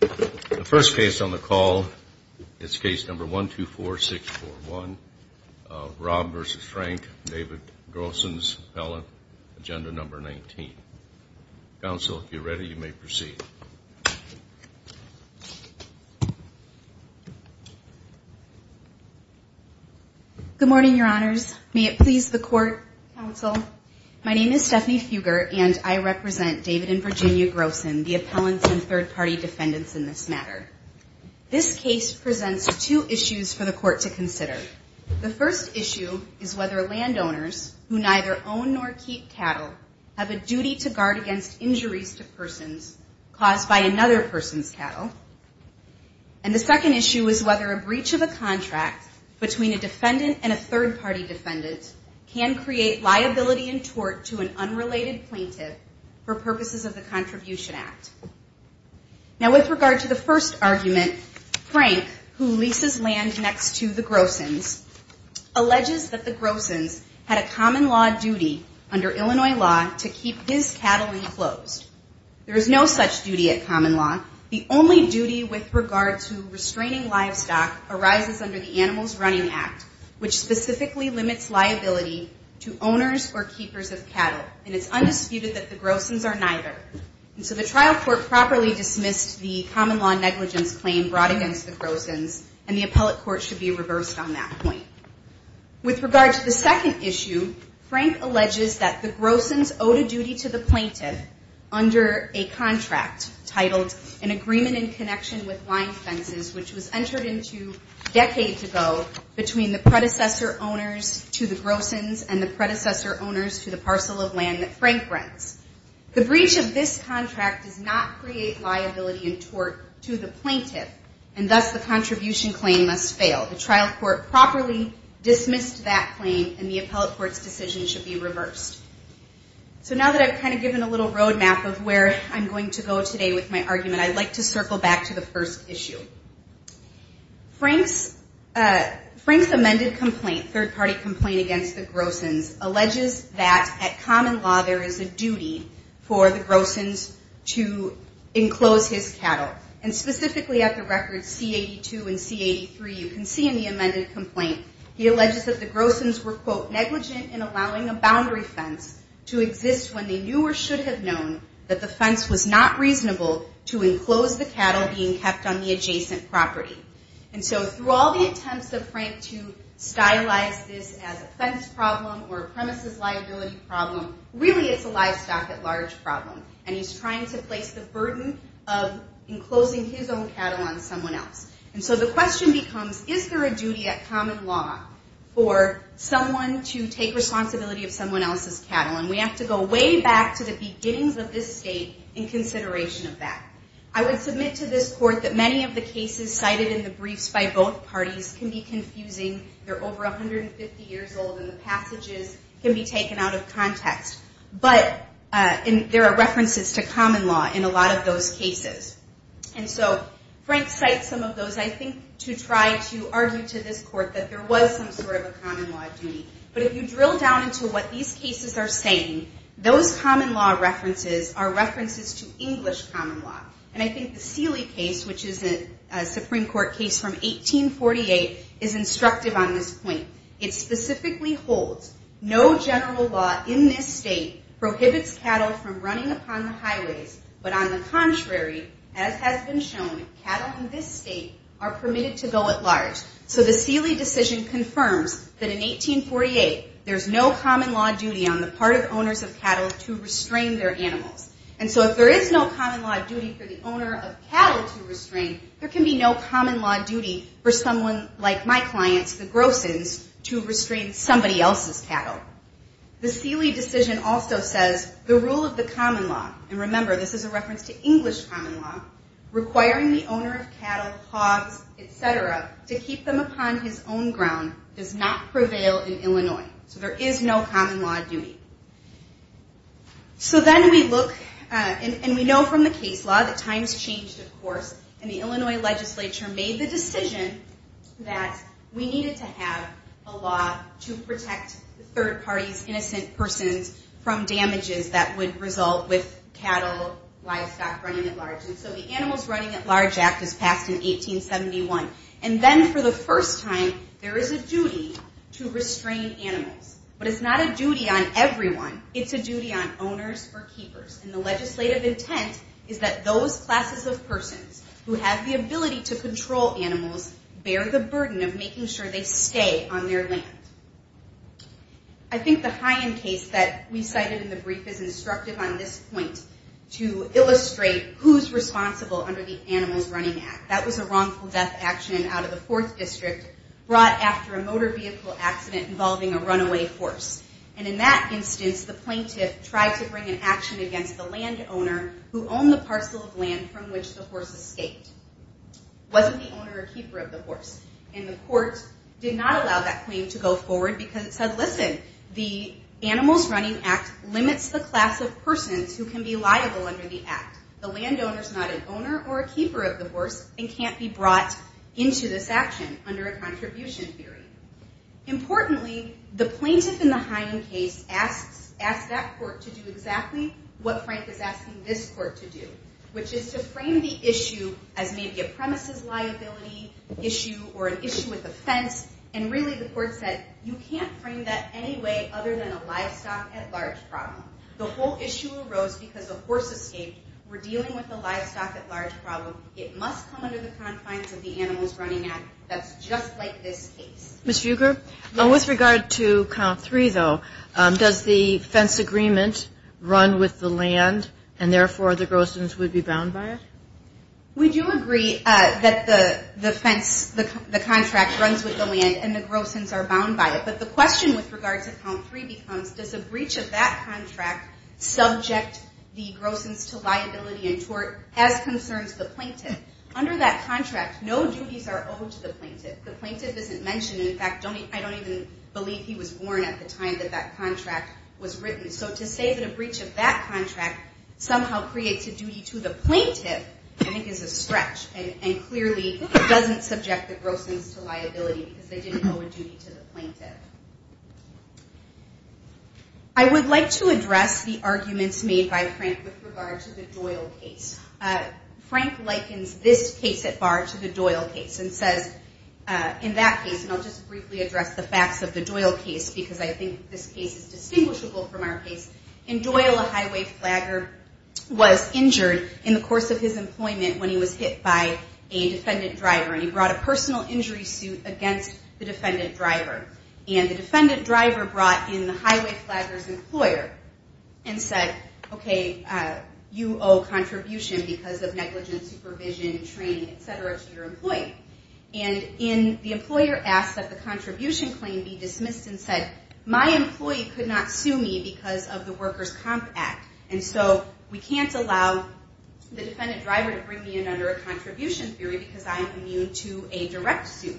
The first case on the call is case number 124641, Raab v. Frank, David Grosin's appellant, agenda number 19. Counsel, if you're ready, you may proceed. Good morning, your honors. May it please the court, counsel. My name is Stephanie Fuger, and I represent David and Virginia Grosin, the appellants and third-party defendants in this matter. This case presents two issues for the court to consider. The first issue is whether landowners who neither own nor keep cattle have a duty to guard against injuries to persons caused by another person's cattle, and the second issue is whether a breach of a contract between a defendant and a third-party defendant can create liability and tort to an unrelated plaintiff for purposes of the Contribution Act. Now, with regard to the first argument, Frank, who leases land next to the Grosins, alleges that the Grosins had a common law duty under Illinois law to keep his cattle enclosed. There is no such duty at common law. The only duty with regard to restraining livestock arises under the Animals Running Act, which specifically limits liability to owners or keepers of cattle, and it's undisputed that the Grosins are neither. And so the trial court properly dismissed the common law negligence claim brought against the Grosins, and the appellate court should be reversed on that point. With regard to the second issue, Frank alleges that the Grosins owed a duty to the plaintiff under a contract titled, An Agreement in Connection with Lying Fences, which was entered into a decade ago between the predecessor owners to the Grosins and the predecessor owners to the parcel of land that Frank rents. The breach of this contract does not create liability and tort to the plaintiff, and thus the contribution claim must fail. The trial court properly dismissed that claim, and the appellate court's decision should be reversed. So now that I've kind of given a little roadmap of where I'm going to go today with my argument, I'd like to circle back to the first issue. Frank's amended complaint, third-party complaint against the Grosins, alleges that at common law there is a duty for the Grosins to enclose his cattle. And specifically at the records C-82 and C-83, you can see in the amended complaint, he alleges that the Grosins were, quote, negligent in allowing a boundary fence to exist when they knew or should have known that the fence was not reasonable to enclose the cattle being adjacent property. And so through all the attempts of Frank to stylize this as a fence problem or a premises liability problem, really it's a livestock at large problem. And he's trying to place the burden of enclosing his own cattle on someone else. And so the question becomes, is there a duty at common law for someone to take responsibility of someone else's cattle? And we have to go way back to the beginnings of this state in consideration of that. I would submit to this court that many of the cases cited in the briefs by both parties can be confusing. They're over 150 years old, and the passages can be taken out of context. But there are references to common law in a lot of those cases. And so Frank cites some of those, I think, to try to argue to this court that there was some sort of a common law duty. But if you drill down into what these cases are saying, those common law references are And I think the Seeley case, which is a Supreme Court case from 1848, is instructive on this point. It specifically holds no general law in this state prohibits cattle from running upon the highways. But on the contrary, as has been shown, cattle in this state are permitted to go at large. So the Seeley decision confirms that in 1848, there's no common law duty on the part of owners of cattle to restrain their animals. And so if there is no common law duty for the owner of cattle to restrain, there can be no common law duty for someone like my clients, the Grossens, to restrain somebody else's cattle. The Seeley decision also says the rule of the common law, and remember, this is a reference to English common law, requiring the owner of cattle, hogs, et cetera, to keep them upon his own ground does not prevail in Illinois. So there is no common law duty. So then we look, and we know from the case law that times changed, of course, and the Illinois legislature made the decision that we needed to have a law to protect third parties, innocent persons, from damages that would result with cattle, livestock, running at large. And so the Animals Running at Large Act was passed in 1871. And then for the first time, there is a duty to restrain animals. But it's not a duty on everyone. It's a duty on owners or keepers. And the legislative intent is that those classes of persons who have the ability to control animals bear the burden of making sure they stay on their land. I think the high-end case that we cited in the brief is instructive on this point to illustrate who's responsible under the Animals Running Act. That was a wrongful death action out of the 4th District brought after a motor vehicle accident involving a runaway horse. And in that instance, the plaintiff tried to bring an action against the landowner who owned the parcel of land from which the horse escaped. It wasn't the owner or keeper of the horse. And the court did not allow that claim to go forward because it said, listen, the Animals Running Act limits the class of persons who can be liable under the act. The landowner's not an owner or a keeper of the horse and can't be brought into this action under a contribution theory. Importantly, the plaintiff in the high-end case asked that court to do exactly what Frank is asking this court to do, which is to frame the issue as maybe a premises liability issue or an issue with offense. And really, the court said, you can't frame that any way other than a livestock-at-large problem. The whole issue arose because the horse escaped. We're dealing with a livestock-at-large problem. It must come under the confines of the Animals Running Act. That's just like this case. Ms. Fugger, with regard to Count 3, though, does the fence agreement run with the land and, therefore, the grossons would be bound by it? We do agree that the contract runs with the land and the grossons are bound by it. But the question with regard to Count 3 becomes, does a breach of that contract subject the grossons to liability and tort as concerns the plaintiff? Under that contract, no duties are owed to the plaintiff. The plaintiff isn't mentioned. In fact, I don't even believe he was born at the time that that contract was written. So to say that a breach of that contract somehow creates a duty to the plaintiff, I think, is a stretch and clearly doesn't subject the grossons to liability because they didn't owe a duty to the plaintiff. I would like to address the arguments made by Frank with regard to the Doyle case. Frank likens this case at bar to the Doyle case and says, in that case, and I'll just briefly address the facts of the Doyle case because I think this case is distinguishable from our case, in Doyle, a highway flagger was injured in the course of his employment when he was hit by a defendant driver and he brought a personal injury suit against the defendant driver. And the defendant driver brought in the highway flagger's employer and said, okay, you owe contribution because of negligence, supervision, training, et cetera, to your employee. And the employer asked that the contribution claim be dismissed and said, my employee could not sue me because of the worker's comp act and so we can't allow the defendant driver to bring me in under a contribution theory because I am immune to a direct suit.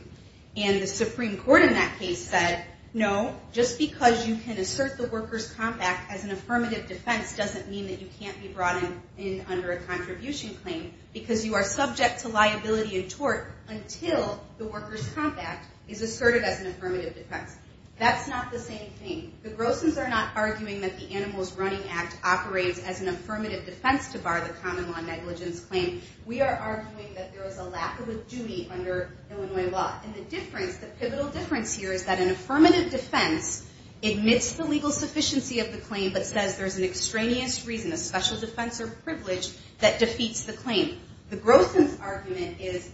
And the Supreme Court in that case said, no, just because you can assert the worker's comp act as an affirmative defense doesn't mean that you can't be brought in under a contribution claim because you are subject to liability and tort until the worker's comp act is asserted as an affirmative defense. That's not the same thing. The Grossons are not arguing that the Animals Running Act operates as an affirmative defense to bar the common law negligence claim. We are arguing that there is a lack of a duty under Illinois law. And the difference, the pivotal difference here is that an affirmative defense admits the legal sufficiency of the claim but says there's an extraneous reason, a special defense or privilege, that defeats the claim. The Grossons' argument is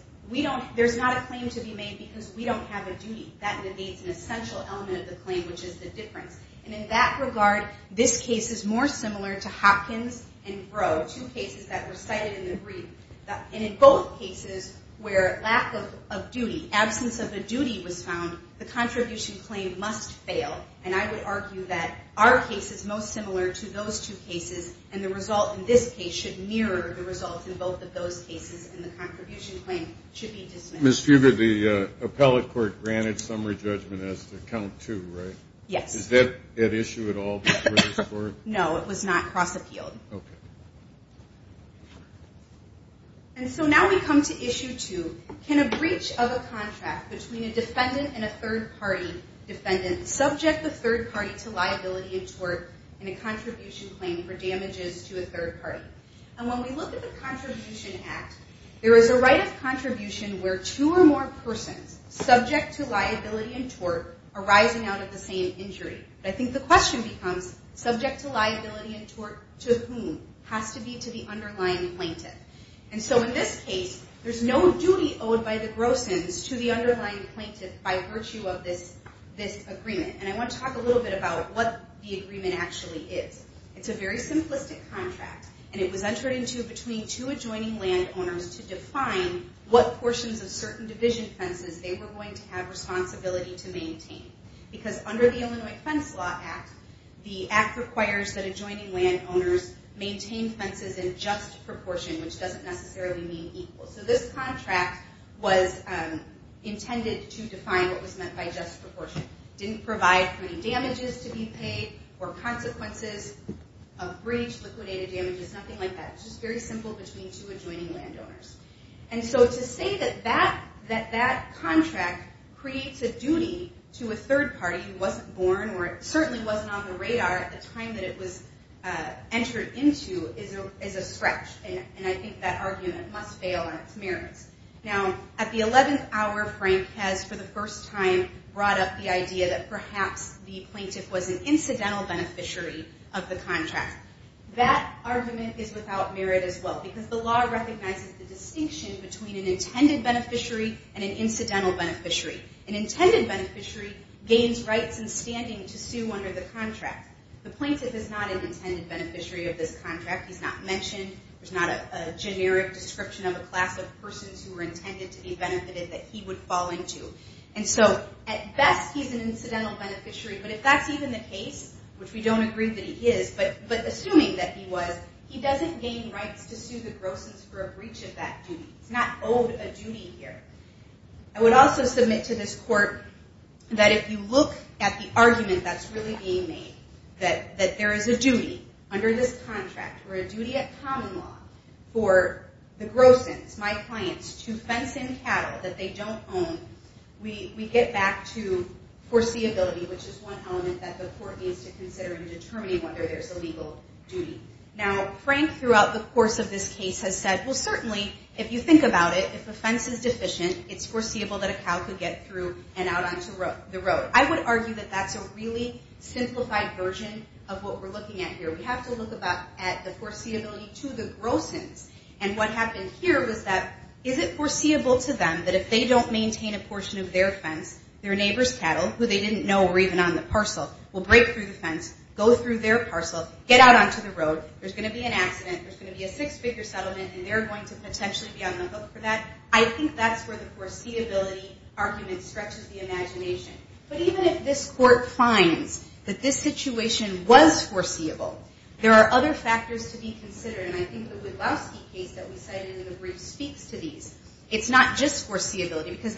there's not a claim to be made because we don't have a duty. That negates an essential element of the claim, which is the difference. And in that regard, this case is more similar to Hopkins and Rowe, two cases that were cited in the brief. And in both cases where lack of duty, absence of a duty was found, the contribution claim must fail. And I would argue that our case is most similar to those two cases and the result in this case should mirror the result in both of those cases and the contribution claim should be dismissed. Ms. Fugger, the appellate court granted summary judgment as to count two, right? Yes. Is that at issue at all before this court? No, it was not across the field. Okay. And so now we come to issue two. Can a breach of a contract between a defendant and a third party defendant subject the third party to liability and tort in a contribution claim for damages to a third party? And when we look at the Contribution Act, there is a right of contribution where two or more persons subject to liability and tort are rising out of the same injury. But I think the question becomes, subject to liability and tort to whom? It has to be to the underlying plaintiff. And so in this case, there's no duty owed by the gross-ins to the underlying plaintiff by virtue of this agreement. And I want to talk a little bit about what the agreement actually is. It's a very simplistic contract, and it was entered into between two adjoining landowners to define what portions of certain division fences they were going to have responsibility to maintain. Because under the Illinois Fence Law Act, the act requires that adjoining landowners maintain fences in just proportion, which doesn't necessarily mean equal. So this contract was intended to define what was meant by just proportion. It didn't provide for any damages to be paid or consequences of breach, liquidated damages, nothing like that. It's just very simple between two adjoining landowners. And so to say that that contract creates a duty to a third party who wasn't born or certainly wasn't on the radar at the time that it was entered into is a stretch. And I think that argument must fail on its merits. Now, at the 11th hour, Frank has, for the first time, brought up the idea that perhaps the plaintiff was an incidental beneficiary of the contract. That argument is without merit as well, because the law recognizes the distinction between an intended beneficiary and an incidental beneficiary. An intended beneficiary gains rights in standing to sue under the contract. The plaintiff is not an intended beneficiary of this contract. He's not mentioned. There's not a generic description of a class of persons who were intended to be benefited that he would fall into. And so at best, he's an incidental beneficiary. But if that's even the case, which we don't agree that he is, but assuming that he was, he doesn't gain rights to sue the grosses for a breach of that duty. He's not owed a duty here. I would also submit to this court that if you look at the argument that's really being made, that there is a duty under this contract, or a duty at common law, for the grosses, my clients, to fence in cattle that they don't own, we get back to foreseeability, which is one element that the court needs to consider in determining whether there's a legal duty. Now, Frank, throughout the course of this case, has said, well, certainly, if you think about it, if a fence is deficient, it's foreseeable that a cow could get through and out onto the road. I would argue that that's a really simplified version of what we're looking at here. We have to look at the foreseeability to the grosses. And what happened here was that is it foreseeable to them that if they don't maintain a portion of their fence, their neighbor's cattle, who they didn't know were even on the parcel, will break through the fence, go through their parcel, get out onto the road, there's going to be an accident, there's going to be a six-figure settlement, and they're going to potentially be on the hook for that. I think that's where the foreseeability argument stretches the imagination. But even if this court finds that this situation was foreseeable, there are other factors to be considered, and I think the Woodlowski case that we cited in the brief speaks to these. It's not just foreseeability, because as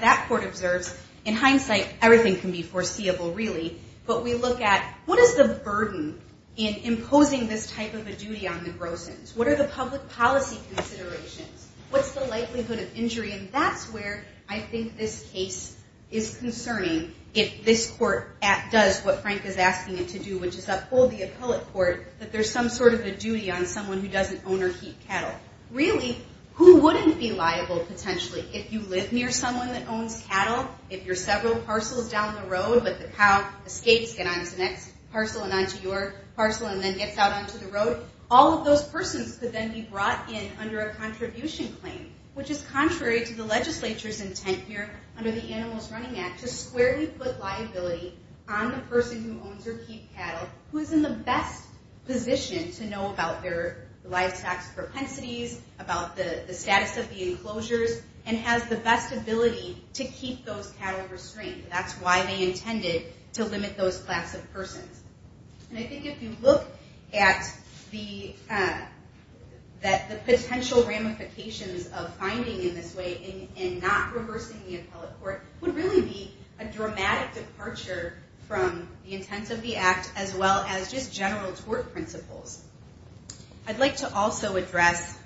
that court observes, in hindsight, everything can be foreseeable, really, but we look at what is the burden in imposing this type of a duty on the grosses? What are the public policy considerations? What's the likelihood of injury? And that's where I think this case is concerning, if this court does what Frank is asking it to do, which is uphold the appellate court, that there's some sort of a duty on someone who doesn't own or keep cattle. Really, who wouldn't be liable, potentially, if you live near someone that owns cattle, if you're several parcels down the road, but the cow escapes, gets onto the next parcel, and onto your parcel, and then gets out onto the road, all of those persons could then be brought in under a contribution claim, which is contrary to the legislature's intent here under the Animals Running Act to squarely put liability on the person who owns or keeps cattle, who is in the best position to know about their livestock's propensities, about the status of the enclosures, and has the best ability to keep those cattle restrained. That's why they intended to limit those class of persons. And I think if you look at the potential ramifications of finding in this way, and not reversing the appellate court, would really be a dramatic departure from the intent of the act, as well as just general tort principles. I'd like to also address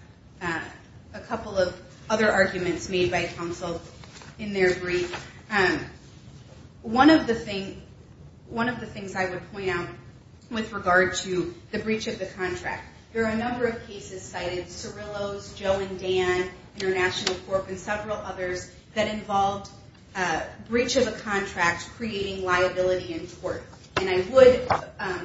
a couple of other arguments made by counsel in their brief. One of the things I would point out with regard to the breach of the contract, there are a number of cases cited, Cirillo's, Joe and Dan, International Corp., and several others, that involved breach of a contract creating liability and tort. And I would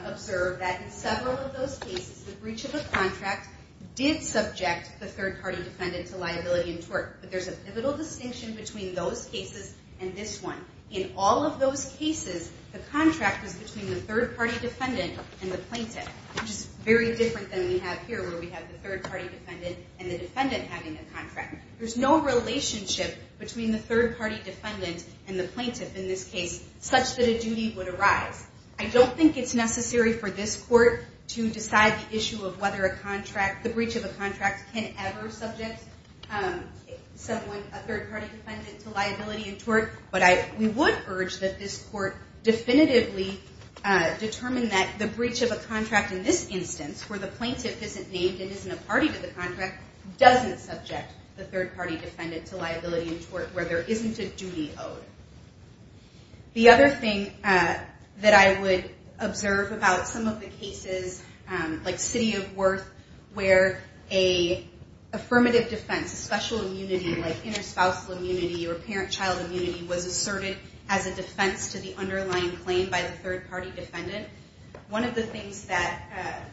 observe that in several of those cases, the breach of a contract did subject the third-party defendant to liability and tort. But there's a pivotal distinction between those cases and this one. In all of those cases, the contract was between the third-party defendant and the plaintiff, which is very different than we have here, where we have the third-party defendant and the defendant having a contract. There's no relationship between the third-party defendant and the plaintiff, in this case, such that a duty would arise. I don't think it's necessary for this court to decide the issue of whether the breach of a contract can ever subject someone, a third-party defendant, to liability and tort. But we would urge that this court definitively determine that the breach of a contract in this instance, where the plaintiff isn't named and isn't a party to the contract, doesn't subject the third-party defendant to liability and tort, where there isn't a duty owed. The other thing that I would observe about some of the cases, like City of Worth, where a affirmative defense, a special immunity, like interspousal immunity or parent-child immunity, was asserted as a defense to the underlying claim by the third-party defendant. One of the things that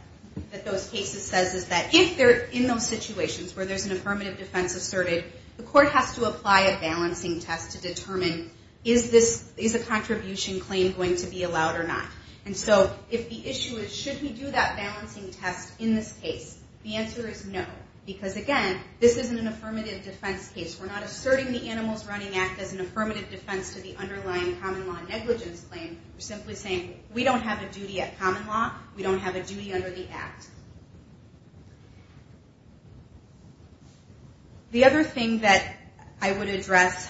those cases says is that, if they're in those situations where there's an affirmative defense asserted, the court has to apply a balancing test to determine, is a contribution claim going to be allowed or not? And so, if the issue is, should we do that balancing test in this case? The answer is no, because again, this isn't an affirmative defense case. We're not asserting the Animals Running Act as an affirmative defense to the underlying common law negligence claim. We're simply saying, we don't have a duty at common law. We don't have a duty under the Act. The other thing that I would address,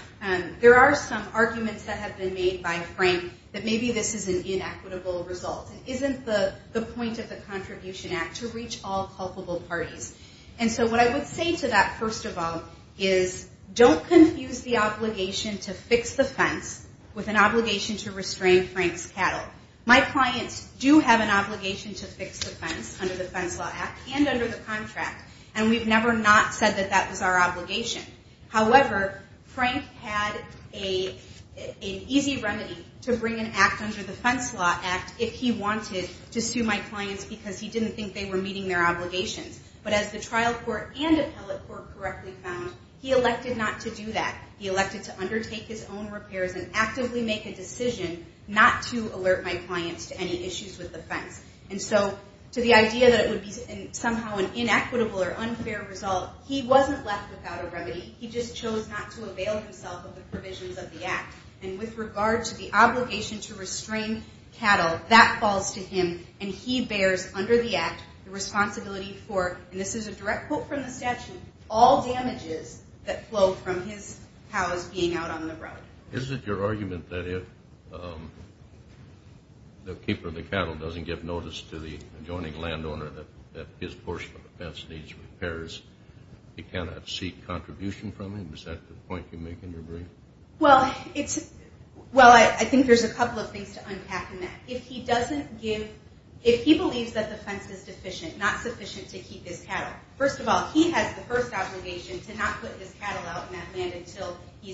there are some arguments that have been made by Frank that maybe this is an inequitable result. It isn't the point of the Contribution Act to reach all culpable parties. And so, what I would say to that, first of all, is don't confuse the obligation to fix the fence with an obligation to restrain Frank's cattle. My clients do have an obligation to fix the fence under the Fence Law Act and under the contract, and we've never not said that that was our obligation. However, Frank had an easy remedy to bring an act under the Fence Law Act if he wanted to sue my clients because he didn't think they were meeting their obligations. But as the trial court and appellate court correctly found, he elected not to do that. He elected to undertake his own repairs and actively make a decision not to alert my clients to any issues with the fence. And so, to the idea that it would be somehow an inequitable or unfair result, he wasn't left without a remedy. He just chose not to avail himself of the provisions of the Act. And with regard to the obligation to restrain cattle, that falls to him, and he bears under the Act the responsibility for, and this is a direct quote from the statute, all damages that flow from his cows being out on the road. Is it your argument that if the keeper of the cattle doesn't give notice to the adjoining landowner that his portion of the fence needs repairs, he cannot seek contribution from him? Is that the point you make in your brief? Well, I think there's a couple of things to unpack in that. If he believes that the fence is deficient, not sufficient to keep his cattle, first of all, he has the first obligation to not put his cattle out in that land until the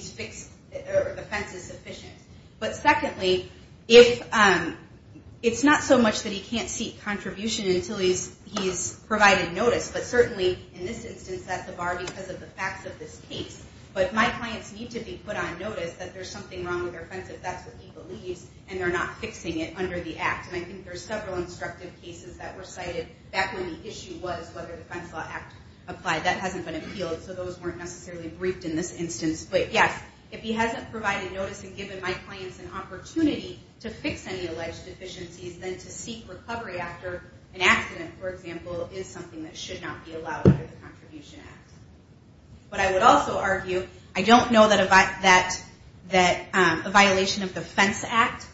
fence is sufficient. But secondly, it's not so much that he can't seek contribution until he's provided notice, but certainly in this instance, that's a bar because of the facts of this case. But if my clients need to be put on notice that there's something wrong with their fence, if that's what he believes, and they're not fixing it under the Act. And I think there's several instructive cases that were cited back when the issue was whether the Fence Law Act applied. That hasn't been appealed, so those weren't necessarily briefed in this instance. But yes, if he hasn't provided notice and given my clients an opportunity to fix any alleged deficiencies, then to seek recovery after an accident, for example, is something that should not be allowed under the Contribution Act. But I would also argue, I don't know that a violation of the Fence Act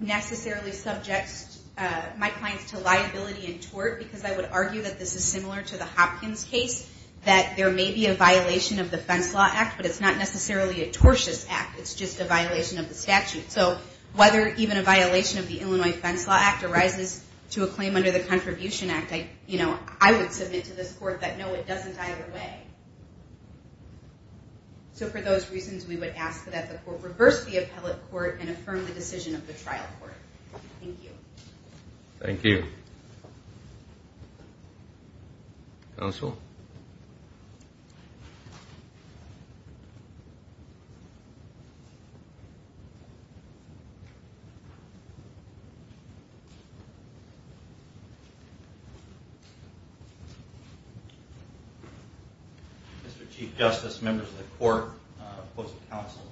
necessarily subjects my clients to liability and tort, because I would argue that this is similar to the Hopkins case, that there may be a violation of the Fence Law Act, but it's not necessarily a tortious act. It's just a violation of the statute. So whether even a violation of the Illinois Fence Law Act arises to a claim under the Contribution Act, I would submit to this court that no, it doesn't either way. So for those reasons, we would ask that the court reverse the appellate court and affirm the decision of the trial court. Thank you. Thank you. Counsel? Mr. Chief Justice, members of the court, opposing counsel,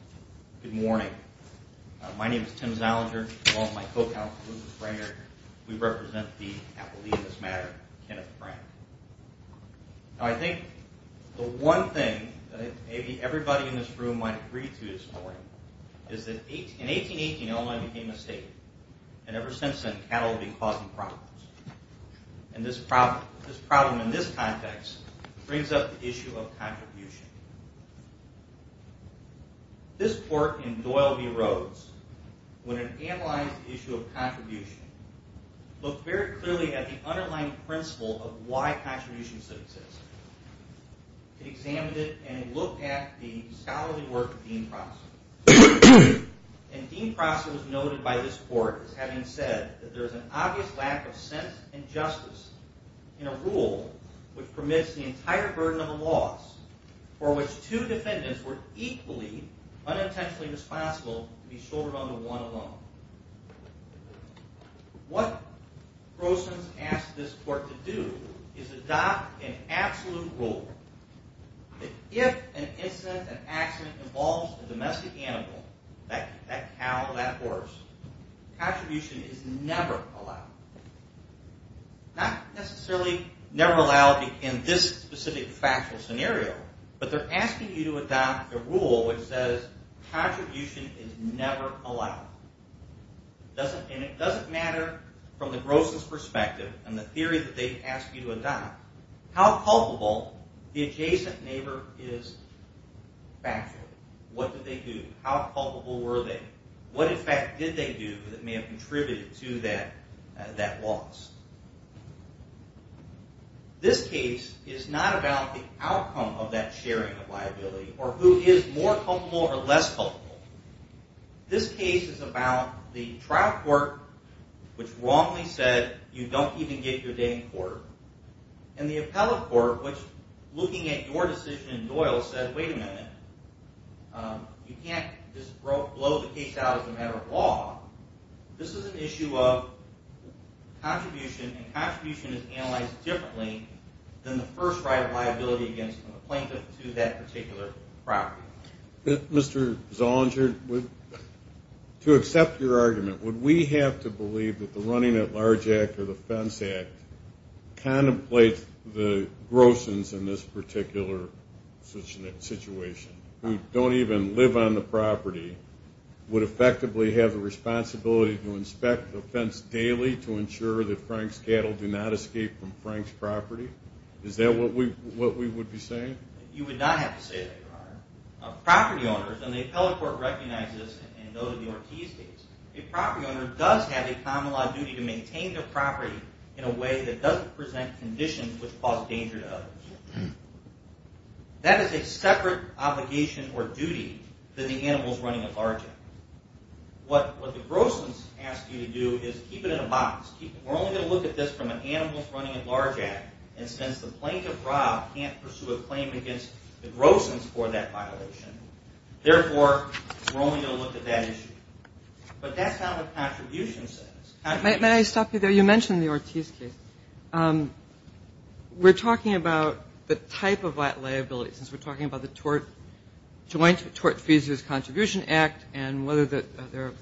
good morning. My name is Tim Zaliger. Along with my co-counsel, Lucas Breyer, we represent the appellee in this matter, Kenneth Frank. Now I think the one thing that maybe everybody in this room might agree to this morning is that in 1818, Illinois became a state, and ever since then, cattle have been causing problems. And this problem in this context brings up the issue of contribution. This court in Doyle v. Rhodes, when it analyzed the issue of contribution, looked very clearly at the underlying principle of why contributions should exist. It examined it, and it looked at the scholarly work of Dean Prosser. And Dean Prosser was noted by this court as having said that there is an obvious lack of sense and justice in a rule which permits the entire burden of a loss, for which two defendants were equally unintentionally responsible to be shouldered under one alone. What Prosser has asked this court to do is adopt an absolute rule that if an incident, an accident, involves a domestic animal, that cow or that horse, contribution is never allowed. Not necessarily never allowed in this specific factual scenario, but they're asking you to adopt a rule which says contribution is never allowed. And it doesn't matter from the grossness perspective and the theory that they ask you to adopt, how culpable the adjacent neighbor is factually. What did they do? How culpable were they? What effect did they do that may have contributed to that loss? This case is not about the outcome of that sharing of liability or who is more culpable or less culpable. This case is about the trial court which wrongly said you don't even get your day in court, and the appellate court which looking at your decision in Doyle said, wait a minute, you can't just blow the case out as a matter of law. This is an issue of contribution, and contribution is analyzed differently than the first right of liability against the plaintiff to that particular property. Mr. Zollinger, to accept your argument, would we have to believe that the Running at Large Act or the Fence Act contemplates the grossings in this particular situation? Who don't even live on the property would effectively have the responsibility to inspect the fence daily to ensure that Frank's cattle do not escape from Frank's property? Is that what we would be saying? You would not have to say that, Your Honor. Property owners, and the appellate court recognizes this, and those of you who are key states, a property owner does have a common law duty to maintain their property in a way that doesn't present conditions which cause danger to others. That is a separate obligation or duty than the Animals Running at Large Act. What the grossings ask you to do is keep it in a box. We're only going to look at this from an Animals Running at Large Act, and since the plaintiff, Rob, can't pursue a claim against the grossings for that violation, therefore, we're only going to look at that issue. But that's not what contribution says. May I stop you there? You mentioned the Ortiz case. We're talking about the type of liability since we're talking about the Joint Tort Fees Use Contribution Act and whether the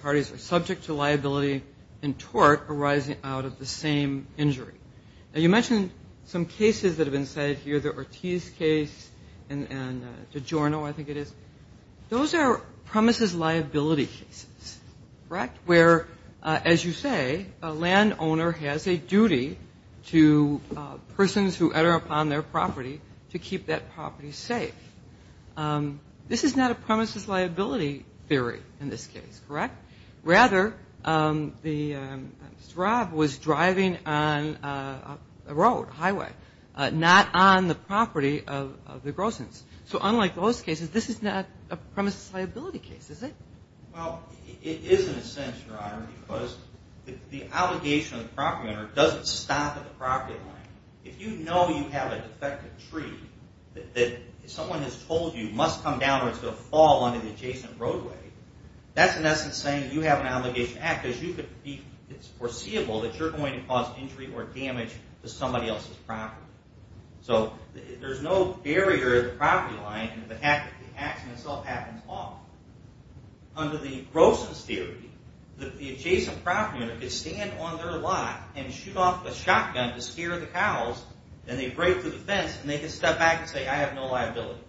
parties are subject to liability in tort arising out of the same injury. Now, you mentioned some cases that have been cited here, the Ortiz case and DiGiorno, I think it is. Those are premises liability cases, correct? Where, as you say, a landowner has a duty to persons who utter upon their property to keep that property safe. This is not a premises liability theory in this case, correct? Rather, Mr. Rob was driving on a road, a highway, not on the property of the grossings. So unlike those cases, this is not a premises liability case, is it? Well, it is in a sense, Your Honor, because the obligation of the property owner doesn't stop at the property line. If you know you have a defective tree that someone has told you must come down or it's going to fall onto the adjacent roadway, that's in essence saying you have an obligation to act because it's foreseeable that you're going to cause injury or damage to somebody else's property. So there's no barrier to the property line if the accident itself happens off. Under the grossings theory, the adjacent property owner could stand on their lot and shoot off a shotgun to scare the cows, and they break through the fence and they could step back and say, I have no liability.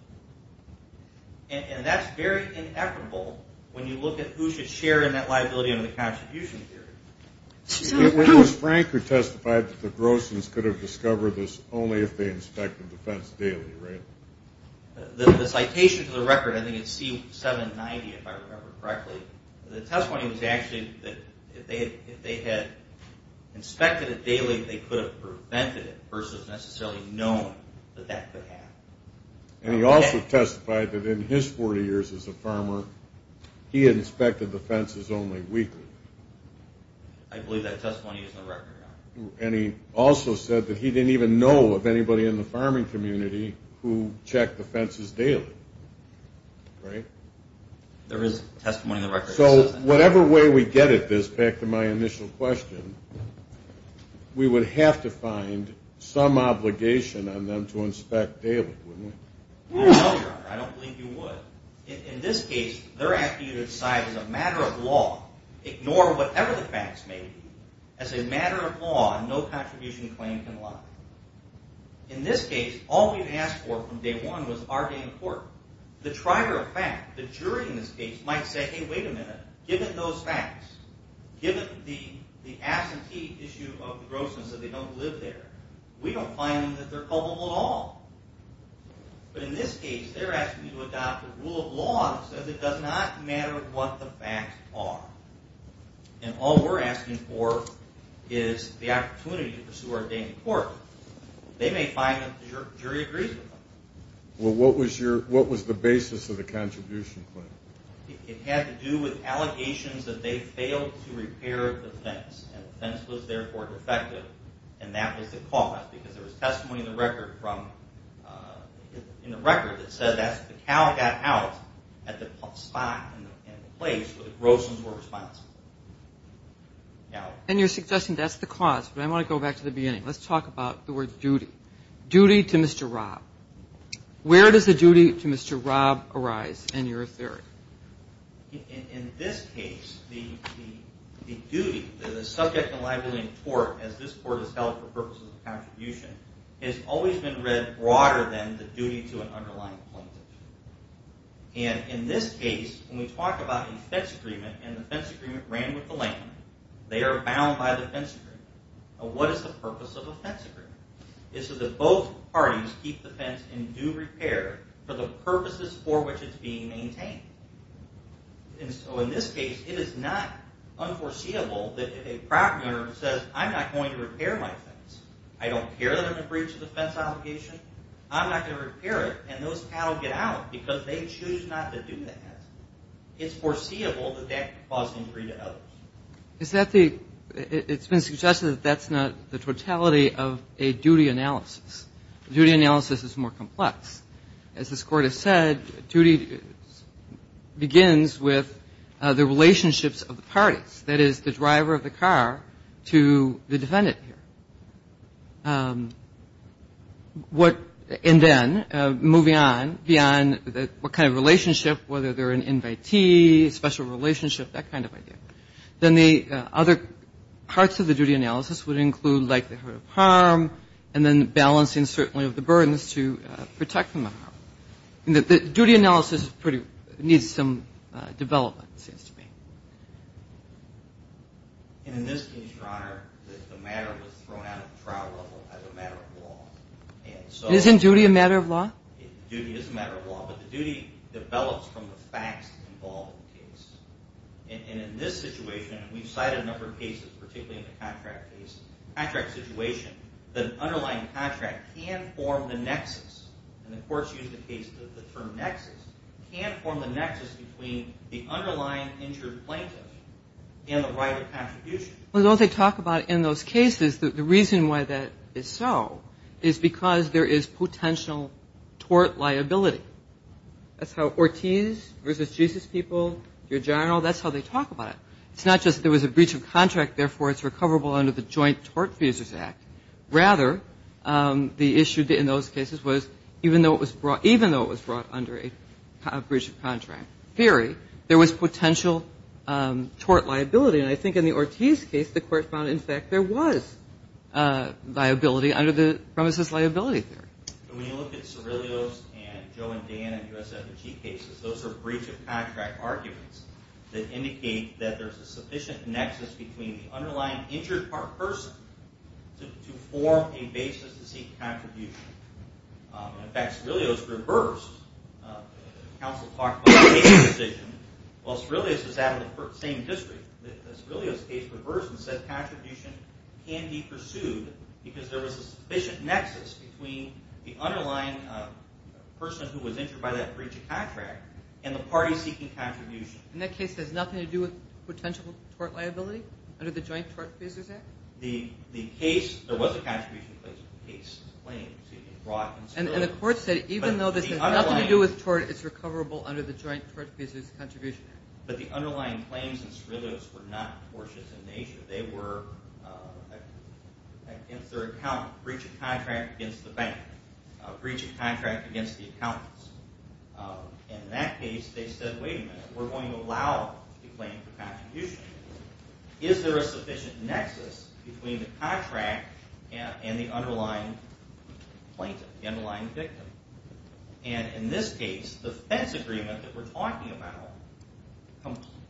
And that's very ineffable when you look at who should share in that liability under the contribution theory. It was Frank who testified that the grossings could have discovered this only if they inspected the fence daily, right? The citation to the record, I think it's C-790, if I remember correctly, the testimony was actually that if they had inspected it daily, they could have prevented it versus necessarily knowing that that could happen. And he also testified that in his 40 years as a farmer, he had inspected the fences only weekly. I believe that testimony is in the record. And he also said that he didn't even know of anybody in the farming community who checked the fences daily, right? There is testimony in the record that says that. So whatever way we get at this, back to my initial question, we would have to find some obligation on them to inspect daily, wouldn't we? No, I don't believe you would. In this case, they're asking you to decide as a matter of law, ignore whatever the facts may be. As a matter of law, no contribution claim can lie. In this case, all we've asked for from day one was our day in court. The trier of fact, the jury in this case, might say, hey, wait a minute, given those facts, given the absentee issue of the grossings that they don't live there, we don't find them that they're culpable at all. But in this case, they're asking you to adopt a rule of law that says it does not matter what the facts are. And all we're asking for is the opportunity to pursue our day in court. They may find that the jury agrees with them. Well, what was the basis of the contribution claim? It had to do with allegations that they failed to repair the fence, and the fence was therefore defective, and that was the cause, because there was testimony in the record that said that the cow got out at the spot and the place where the grossings were responsible. And you're suggesting that's the cause, but I want to go back to the beginning. Let's talk about the word duty. Duty to Mr. Robb. Where does the duty to Mr. Robb arise in your theory? As this court has held for purposes of contribution, it has always been read broader than the duty to an underlying plaintiff. And in this case, when we talk about a fence agreement, and the fence agreement ran with the land, they are bound by the fence agreement. Now, what is the purpose of a fence agreement? It's so that both parties keep the fence in due repair for the purposes for which it's being maintained. And so in this case, it is not unforeseeable that if a property owner says, I'm not going to repair my fence. I don't care that I'm going to breach a defense obligation. I'm not going to repair it, and those cattle get out because they choose not to do that. It's foreseeable that that could cause an injury to others. It's been suggested that that's not the totality of a duty analysis. A duty analysis is more complex. As this court has said, duty begins with the relationships of the parties, that is, the driver of the car to the defendant here. And then moving on beyond what kind of relationship, whether they're an invitee, special relationship, that kind of idea. Then the other parts of the duty analysis would include likelihood of harm and then balancing certainly of the burdens to protect them from harm. The duty analysis needs some development, it seems to me. And in this case, Your Honor, the matter was thrown out of the trial level as a matter of law. Isn't duty a matter of law? Duty is a matter of law, but the duty develops from the facts involved in the case. And in this situation, we've cited a number of cases, particularly in the contract case. In the contract situation, the underlying contract can form the nexus, and the courts use the term nexus, can form the nexus between the underlying injured plaintiff and the right of contribution. Well, those they talk about in those cases, the reason why that is so is because there is potential tort liability. That's how Ortiz versus Jesus people, Your General, that's how they talk about it. It's not just there was a breach of contract, therefore it's recoverable under the Joint Tort Feasors Act. Rather, the issue in those cases was even though it was brought under a breach of contract theory, there was potential tort liability. And I think in the Ortiz case, the court found, in fact, there was liability under the premises liability theory. When you look at Cirillio's and Joe and Dan and U.S. F&G cases, those are breach of contract arguments that indicate that there's a sufficient nexus between the underlying injured person to form a basis to seek contribution. In fact, Cirillio's reversed. The counsel talked about a case decision. Well, Cirillio's is out of the same district. Cirillio's case reversed and said contribution can be pursued because there was a sufficient nexus between the underlying person who was injured by that breach of contract and the party seeking contribution. And that case has nothing to do with potential tort liability under the Joint Tort Feasors Act? The case, there was a contribution case. And the court said even though this has nothing to do with tort, it's recoverable under the Joint Tort Feasors Contribution Act. But the underlying claims in Cirillio's were not tortious in nature. They were against their accountant, a breach of contract against the bank, a breach of contract against the accountant. And in that case, they said, wait a minute. We're going to allow the claim for contribution. Is there a sufficient nexus between the contract and the underlying plaintiff, the underlying victim? And in this case, the fence agreement that we're talking about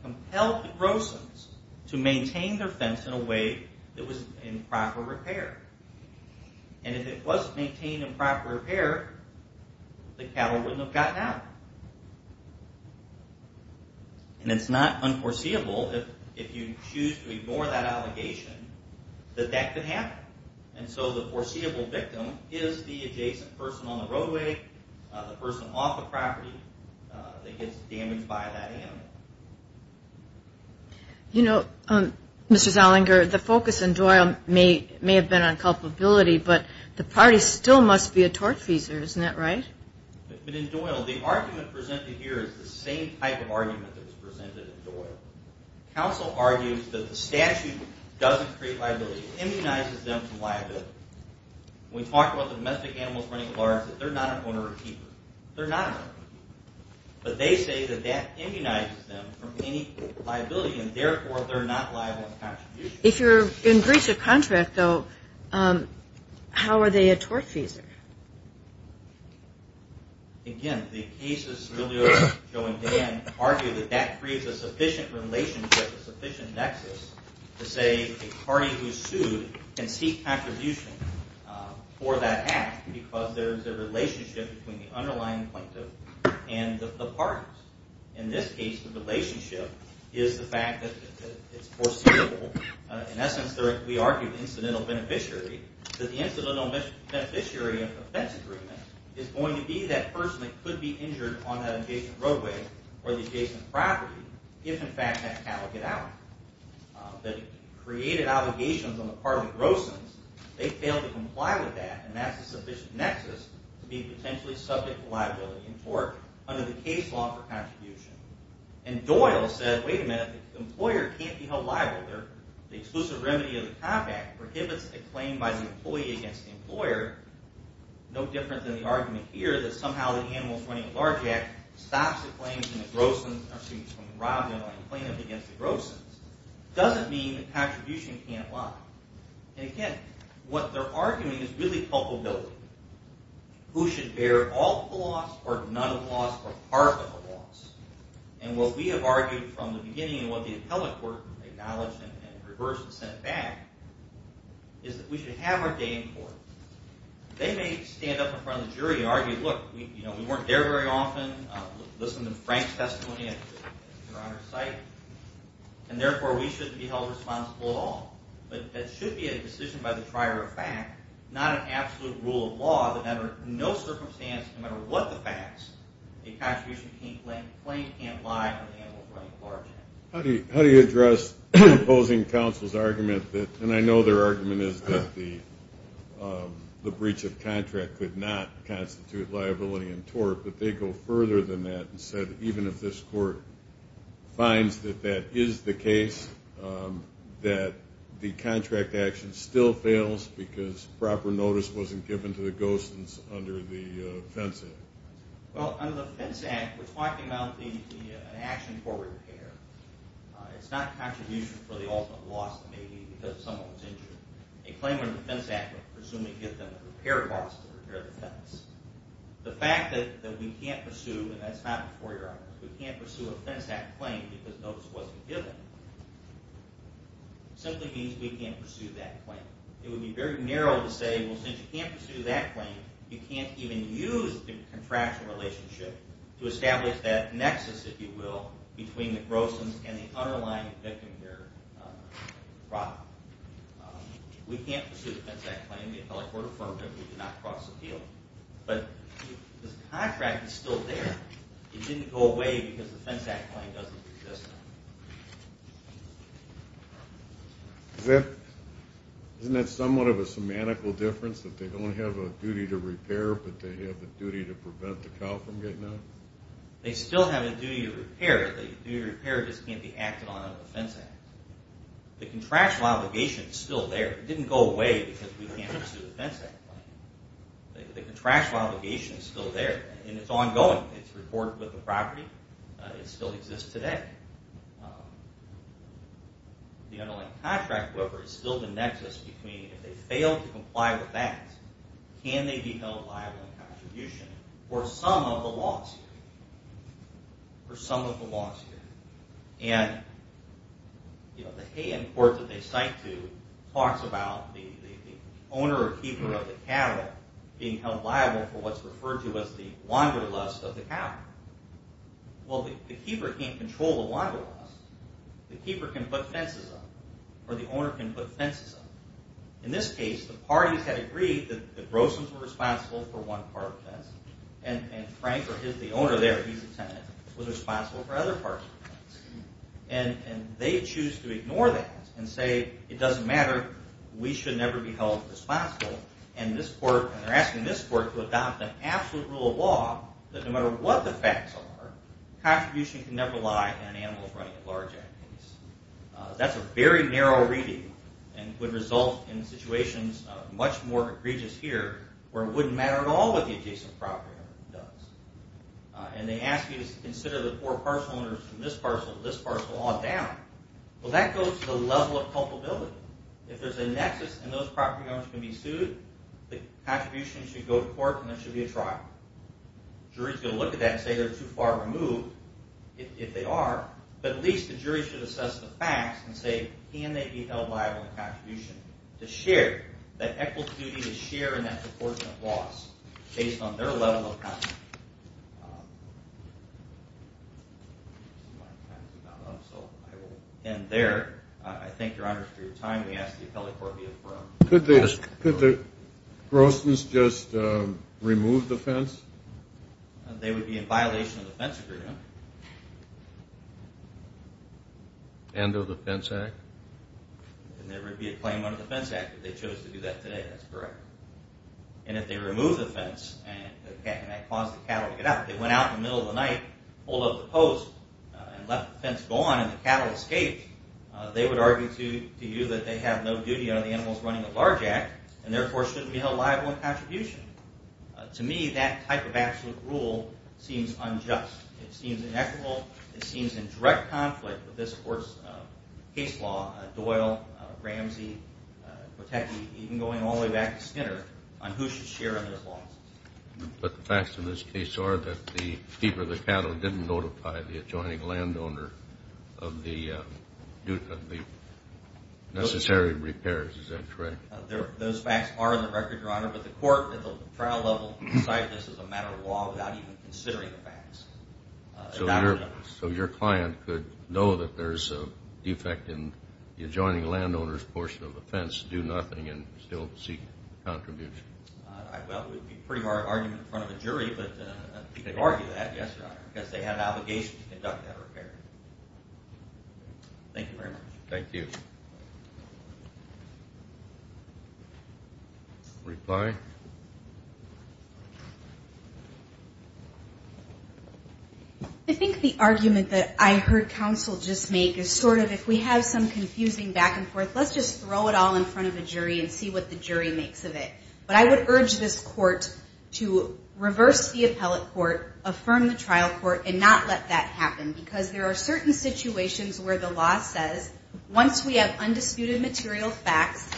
compelled the grossers to maintain their fence in a way that was in proper repair. And if it was maintained in proper repair, the cattle wouldn't have gotten out. And it's not unforeseeable if you choose to ignore that allegation that that could happen. And so the foreseeable victim is the adjacent person on the roadway, the person off the property that gets damaged by that animal. You know, Mr. Zallinger, the focus in Doyle may have been on culpability, but the parties still must be a tortfeasor, isn't that right? But in Doyle, the argument presented here is the same type of argument that was presented in Doyle. Counsel argues that the statute doesn't create liability. It immunizes them from liability. When we talk about domestic animals running alarms, that they're not an owner or keeper. They're not an owner or keeper. But they say that that immunizes them from any liability, and therefore they're not liable in contribution. If you're in breach of contract, though, how are they a tortfeasor? Again, the cases earlier, Joe and Dan, argue that that creates a sufficient relationship, a sufficient nexus to say a party who's sued can seek contribution for that act because there's a relationship between the underlying plaintiff and the parties. In this case, the relationship is the fact that it's foreseeable. In essence, we argue that the incidental beneficiary of the offense agreement is going to be that person that could be injured on that adjacent roadway or the adjacent property if, in fact, that cattle get out. The created obligations on the part of the grossing, they fail to comply with that, and that's a sufficient nexus to be potentially subject to liability in tort under the case law for contribution. And Doyle said, wait a minute, the employer can't be held liable. The exclusive remedy of the COP Act prohibits a claim by the employee against the employer, no different than the argument here that somehow the animals running a large act stops the claims from the grossing, or excuse me, from the robbed underlying plaintiff against the grossing. It doesn't mean that contribution can't lie. And again, what they're arguing is really culpability. Who should bear all of the loss or none of the loss or part of the loss? And what we have argued from the beginning and what the appellate court acknowledged and reversed and sent back is that we should have our day in court. They may stand up in front of the jury and argue, look, we weren't there very often, listen to Frank's testimony, and therefore we shouldn't be held responsible at all. But that should be a decision by the trier of fact, not an absolute rule of law, that under no circumstance, no matter what the facts, a contribution claim can't lie on an animal running a large act. How do you address opposing counsel's argument that, and I know their argument is that the breach of contract could not constitute liability in tort, but they go further than that and said even if this court finds that that is the case, that the contract action still fails because proper notice wasn't given to the ghost under the Fence Act? Well, under the Fence Act, we're talking about an action for repair. It's not a contribution for the ultimate loss. It may be because someone was injured. A claim under the Fence Act would presumably give them a repair loss to repair the fence. The fact that we can't pursue, and that's not before your honor, we can't pursue a Fence Act claim because notice wasn't given simply means we can't pursue that claim. It would be very narrow to say, well, since you can't pursue that claim, you can't even use the contractual relationship to establish that nexus, if you will, between the grosses and the underlying victim-bearer problem. We can't pursue the Fence Act claim. The appellate court affirmed it. We did not cross the field. But this contract is still there. It didn't go away because the Fence Act claim doesn't exist. Isn't that somewhat of a semantical difference that they don't have a duty to repair, but they have a duty to prevent the cow from getting out? They still have a duty to repair. The duty to repair just can't be acted on under the Fence Act. The contractual obligation is still there. It didn't go away because we can't pursue the Fence Act claim. The contractual obligation is still there, and it's ongoing. It's reported with the property. It still exists today. The underlying contract, however, is still the nexus between, if they fail to comply with that, can they be held liable in contribution for some of the loss here? For some of the loss here. And, you know, the Hay End Court that they cite to talks about the owner or keeper of the cattle being held liable for what's referred to as the wanderlust of the cow. Well, the keeper can't control the wanderlust. The keeper can put fences up, or the owner can put fences up. In this case, the parties had agreed that the Brosons were responsible for one part of the fence, and Frank, or the owner there, he's a tenant, was responsible for other parts of the fence. And they choose to ignore that and say, it doesn't matter, we should never be held responsible. And they're asking this court to adopt the absolute rule of law that no matter what the facts are, contribution can never lie on animals running at large animals. That's a very narrow reading, and would result in situations much more egregious here, where it wouldn't matter at all what the adjacent property owner does. And they ask you to consider the four parcel owners from this parcel to this parcel all down. Well, that goes to the level of culpability. If there's a nexus, and those property owners can be sued, the contribution should go to court, and there should be a trial. The jury's going to look at that and say they're too far removed, if they are, but at least the jury should assess the facts and say, can they be held liable in contribution to share that equity, to share in that proportionate loss based on their level of culpability. I think my time's about up, so I will end there. I thank your honors for your time. We ask the appellate court to be adjourned. Could the Grossmans just remove the fence? They would be in violation of the fence agreement. And of the Fence Act? And there would be a claim under the Fence Act if they chose to do that today. That's correct. And if they remove the fence, and that caused the cattle to get out, they went out in the middle of the night, pulled up the post, and left the fence gone, and the cattle escaped, they would argue to you that they have no duty on the animals running a large act, and therefore shouldn't be held liable in contribution. To me, that type of absolute rule seems unjust. It seems inequitable. It seems in direct conflict with this court's case law, Doyle, Ramsey, Kotecki, even going all the way back to Skinner, on who should share in this law. But the facts in this case are that the keeper of the cattle didn't notify the adjoining landowner of the necessary repairs. Is that correct? Those facts are in the record, Your Honor, but the court at the trial level decided this is a matter of law without even considering the facts. So your client could know that there's a defect in the adjoining landowner's portion of the fence, do nothing, and still seek contribution. Well, it would be a pretty hard argument in front of a jury, but people argue that because they have an obligation to conduct that repair. Thank you very much. Thank you. Reply. I think the argument that I heard counsel just make is sort of, if we have some confusing back and forth, let's just throw it all in front of a jury and see what the jury makes of it. But I would urge this court to reverse the appellate court, affirm the trial court, and not let that happen, because there are certain situations where the law says, once we have undisputed material facts,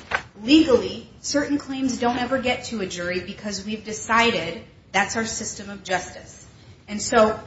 legally certain claims don't ever get to a jury because we've decided that's our system of justice. And so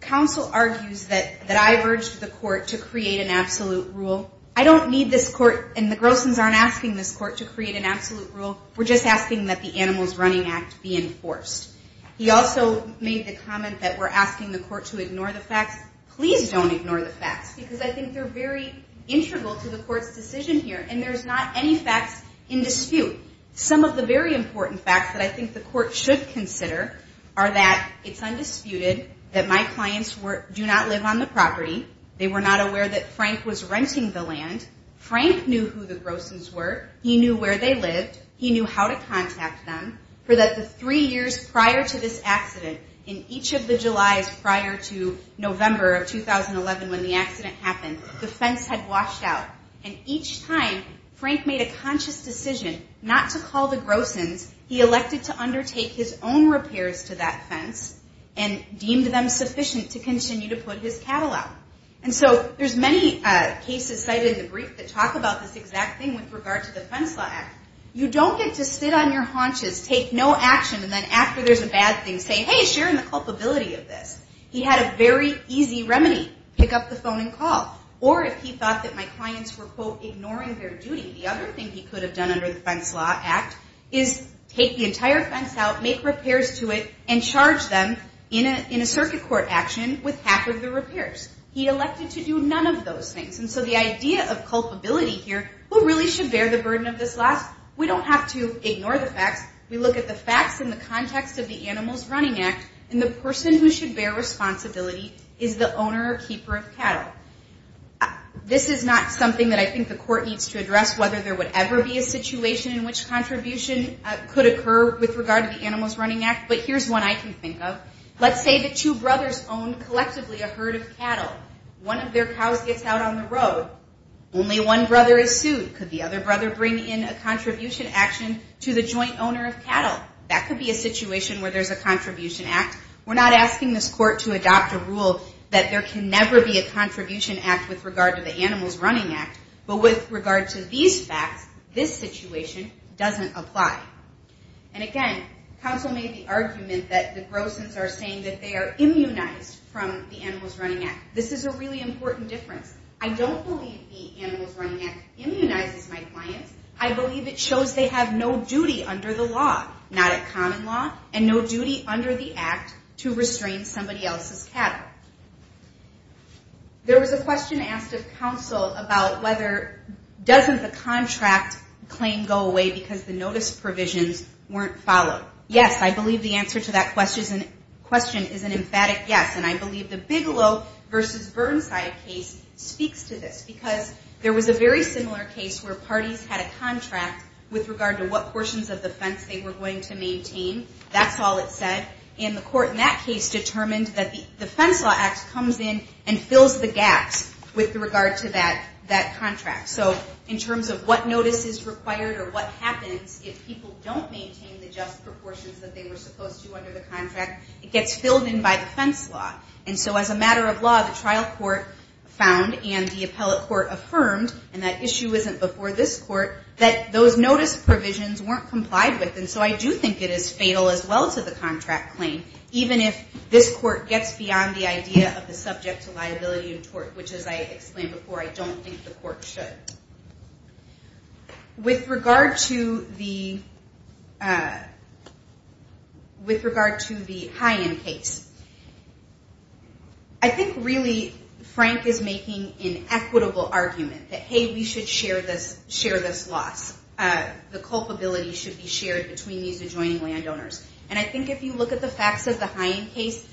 counsel argues that I've urged the court to create an absolute rule. I don't need this court, and the Grosens aren't asking this court to create an absolute rule. We're just asking that the Animals Running Act be enforced. He also made the comment that we're asking the court to ignore the facts. Please don't ignore the facts, because I think they're very integral to the court's decision here, and there's not any facts in dispute. Some of the very important facts that I think the court should consider are that it's undisputed that my clients do not live on the property, they were not aware that Frank was renting the land, Frank knew who the Grosens were, he knew where they lived, he knew how to contact them, for that the three years prior to this accident, in each of the Julys prior to November of 2011 when the accident happened, the fence had washed out. And each time Frank made a conscious decision not to call the Grosens, he elected to undertake his own repairs to that fence and deemed them sufficient to continue to put his cattle out. And so there's many cases cited in the brief that talk about this exact thing with regard to the Fence Law Act. You don't get to sit on your haunches, take no action, and then after there's a bad thing, say, hey, share in the culpability of this. He had a very easy remedy, pick up the phone and call. Or if he thought that my clients were, quote, ignoring their duty, the other thing he could have done under the Fence Law Act is take the entire fence out, make repairs to it, and charge them in a circuit court action with half of the repairs. He elected to do none of those things. And so the idea of culpability here, who really should bear the burden of this loss, we don't have to ignore the facts. We look at the facts in the context of the Animals Running Act and the person who should bear responsibility is the owner or keeper of cattle. This is not something that I think the court needs to address, whether there would ever be a situation in which contribution could occur with regard to the Animals Running Act, but here's one I can think of. Let's say the two brothers own collectively a herd of cattle. One of their cows gets out on the road. Only one brother is sued. Could the other brother bring in a contribution action to the joint owner of cattle? That could be a situation where there's a contribution act. We're not asking this court to adopt a rule that there can never be a contribution act with regard to the Animals Running Act, but with regard to these facts, this situation doesn't apply. And again, counsel made the argument that the Grosens are saying that they are immunized from the Animals Running Act. This is a really important difference. I don't believe the Animals Running Act immunizes my clients. I believe it shows they have no duty under the law. Not a common law, and no duty under the act to restrain somebody else's cattle. There was a question asked of counsel about whether doesn't the contract claim go away because the notice provisions weren't followed. Yes, I believe the answer to that question is an emphatic yes, and I believe the Bigelow v. Burnside case speaks to this because there was a very similar case where parties had a contract with regard to what portions of the fence they were going to maintain. That's all it said. And the court in that case determined that the Fence Law Act comes in and fills the gaps with regard to that contract. So in terms of what notice is required or what happens if people don't maintain the just proportions that they were supposed to under the contract, it gets filled in by the fence law. And so as a matter of law, the trial court found and the appellate court affirmed, and that issue isn't before this court, that those notice provisions weren't complied with, and so I do think it is fatal as well to the contract claim even if this court gets beyond the idea of the subject to liability and tort, which as I explained before, I don't think the court should. With regard to the high-end case, I think really Frank is making an equitable argument that, hey, we should share this loss. The culpability should be shared between these adjoining landowners. And I think if you look at the facts of the high-end case,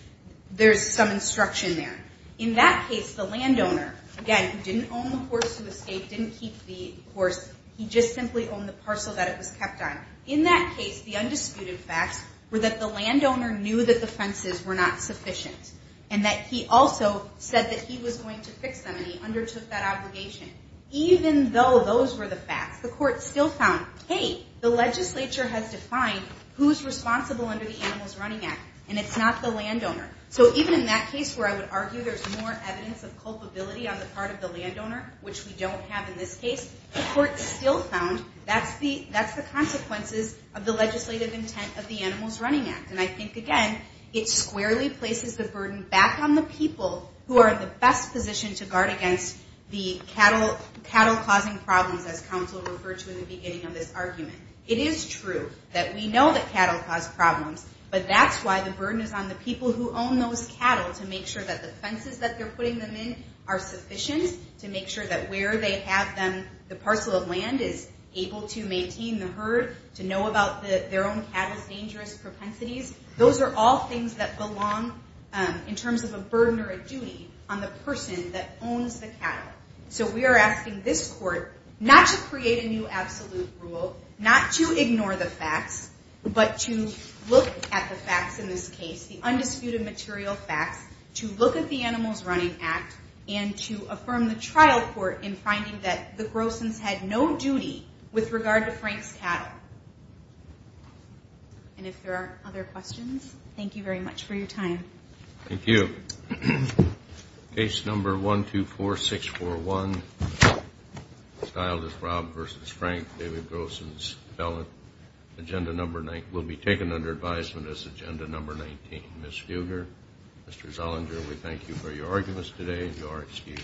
there's some instruction there. In that case, the landowner, again, who didn't own the course to escape, didn't keep the course, he just simply owned the parcel that it was kept on. In that case, the undisputed facts were that the landowner knew that the fences were not sufficient and that he also said that he was going to fix them and he undertook that obligation. Even though those were the facts, the court still found, hey, the legislature has defined who's responsible under the Animals Running Act, and it's not the landowner. So even in that case where I would argue there's more evidence of culpability on the part of the landowner, which we don't have in this case, the court still found that's the consequences of the legislative intent of the Animals Running Act. And I think, again, it squarely places the burden back on the people who are in the best position to guard against the cattle-causing problems, as counsel referred to in the beginning of this argument. It is true that we know that cattle cause problems, but that's why the burden is on the people who own those cattle, to make sure that the fences that they're putting them in are sufficient, to make sure that where they have them, the parcel of land is able to maintain the herd, to know about their own cattle's dangerous propensities. Those are all things that belong, in terms of a burden or a duty, on the person that owns the cattle. So we are asking this court not to create a new absolute rule, not to ignore the facts, but to look at the facts in this case, the undisputed material facts, to look at the Animals Running Act, and to affirm the trial court in finding that the Grossens had no duty with regard to Frank's cattle. And if there aren't other questions, thank you very much for your time. Thank you. Case number 124641, styled as Rob versus Frank, David Grossen's felon, will be taken under advisement as agenda number 19. Ms. Fugger, Mr. Zollinger, we thank you for your arguments today. You are excused.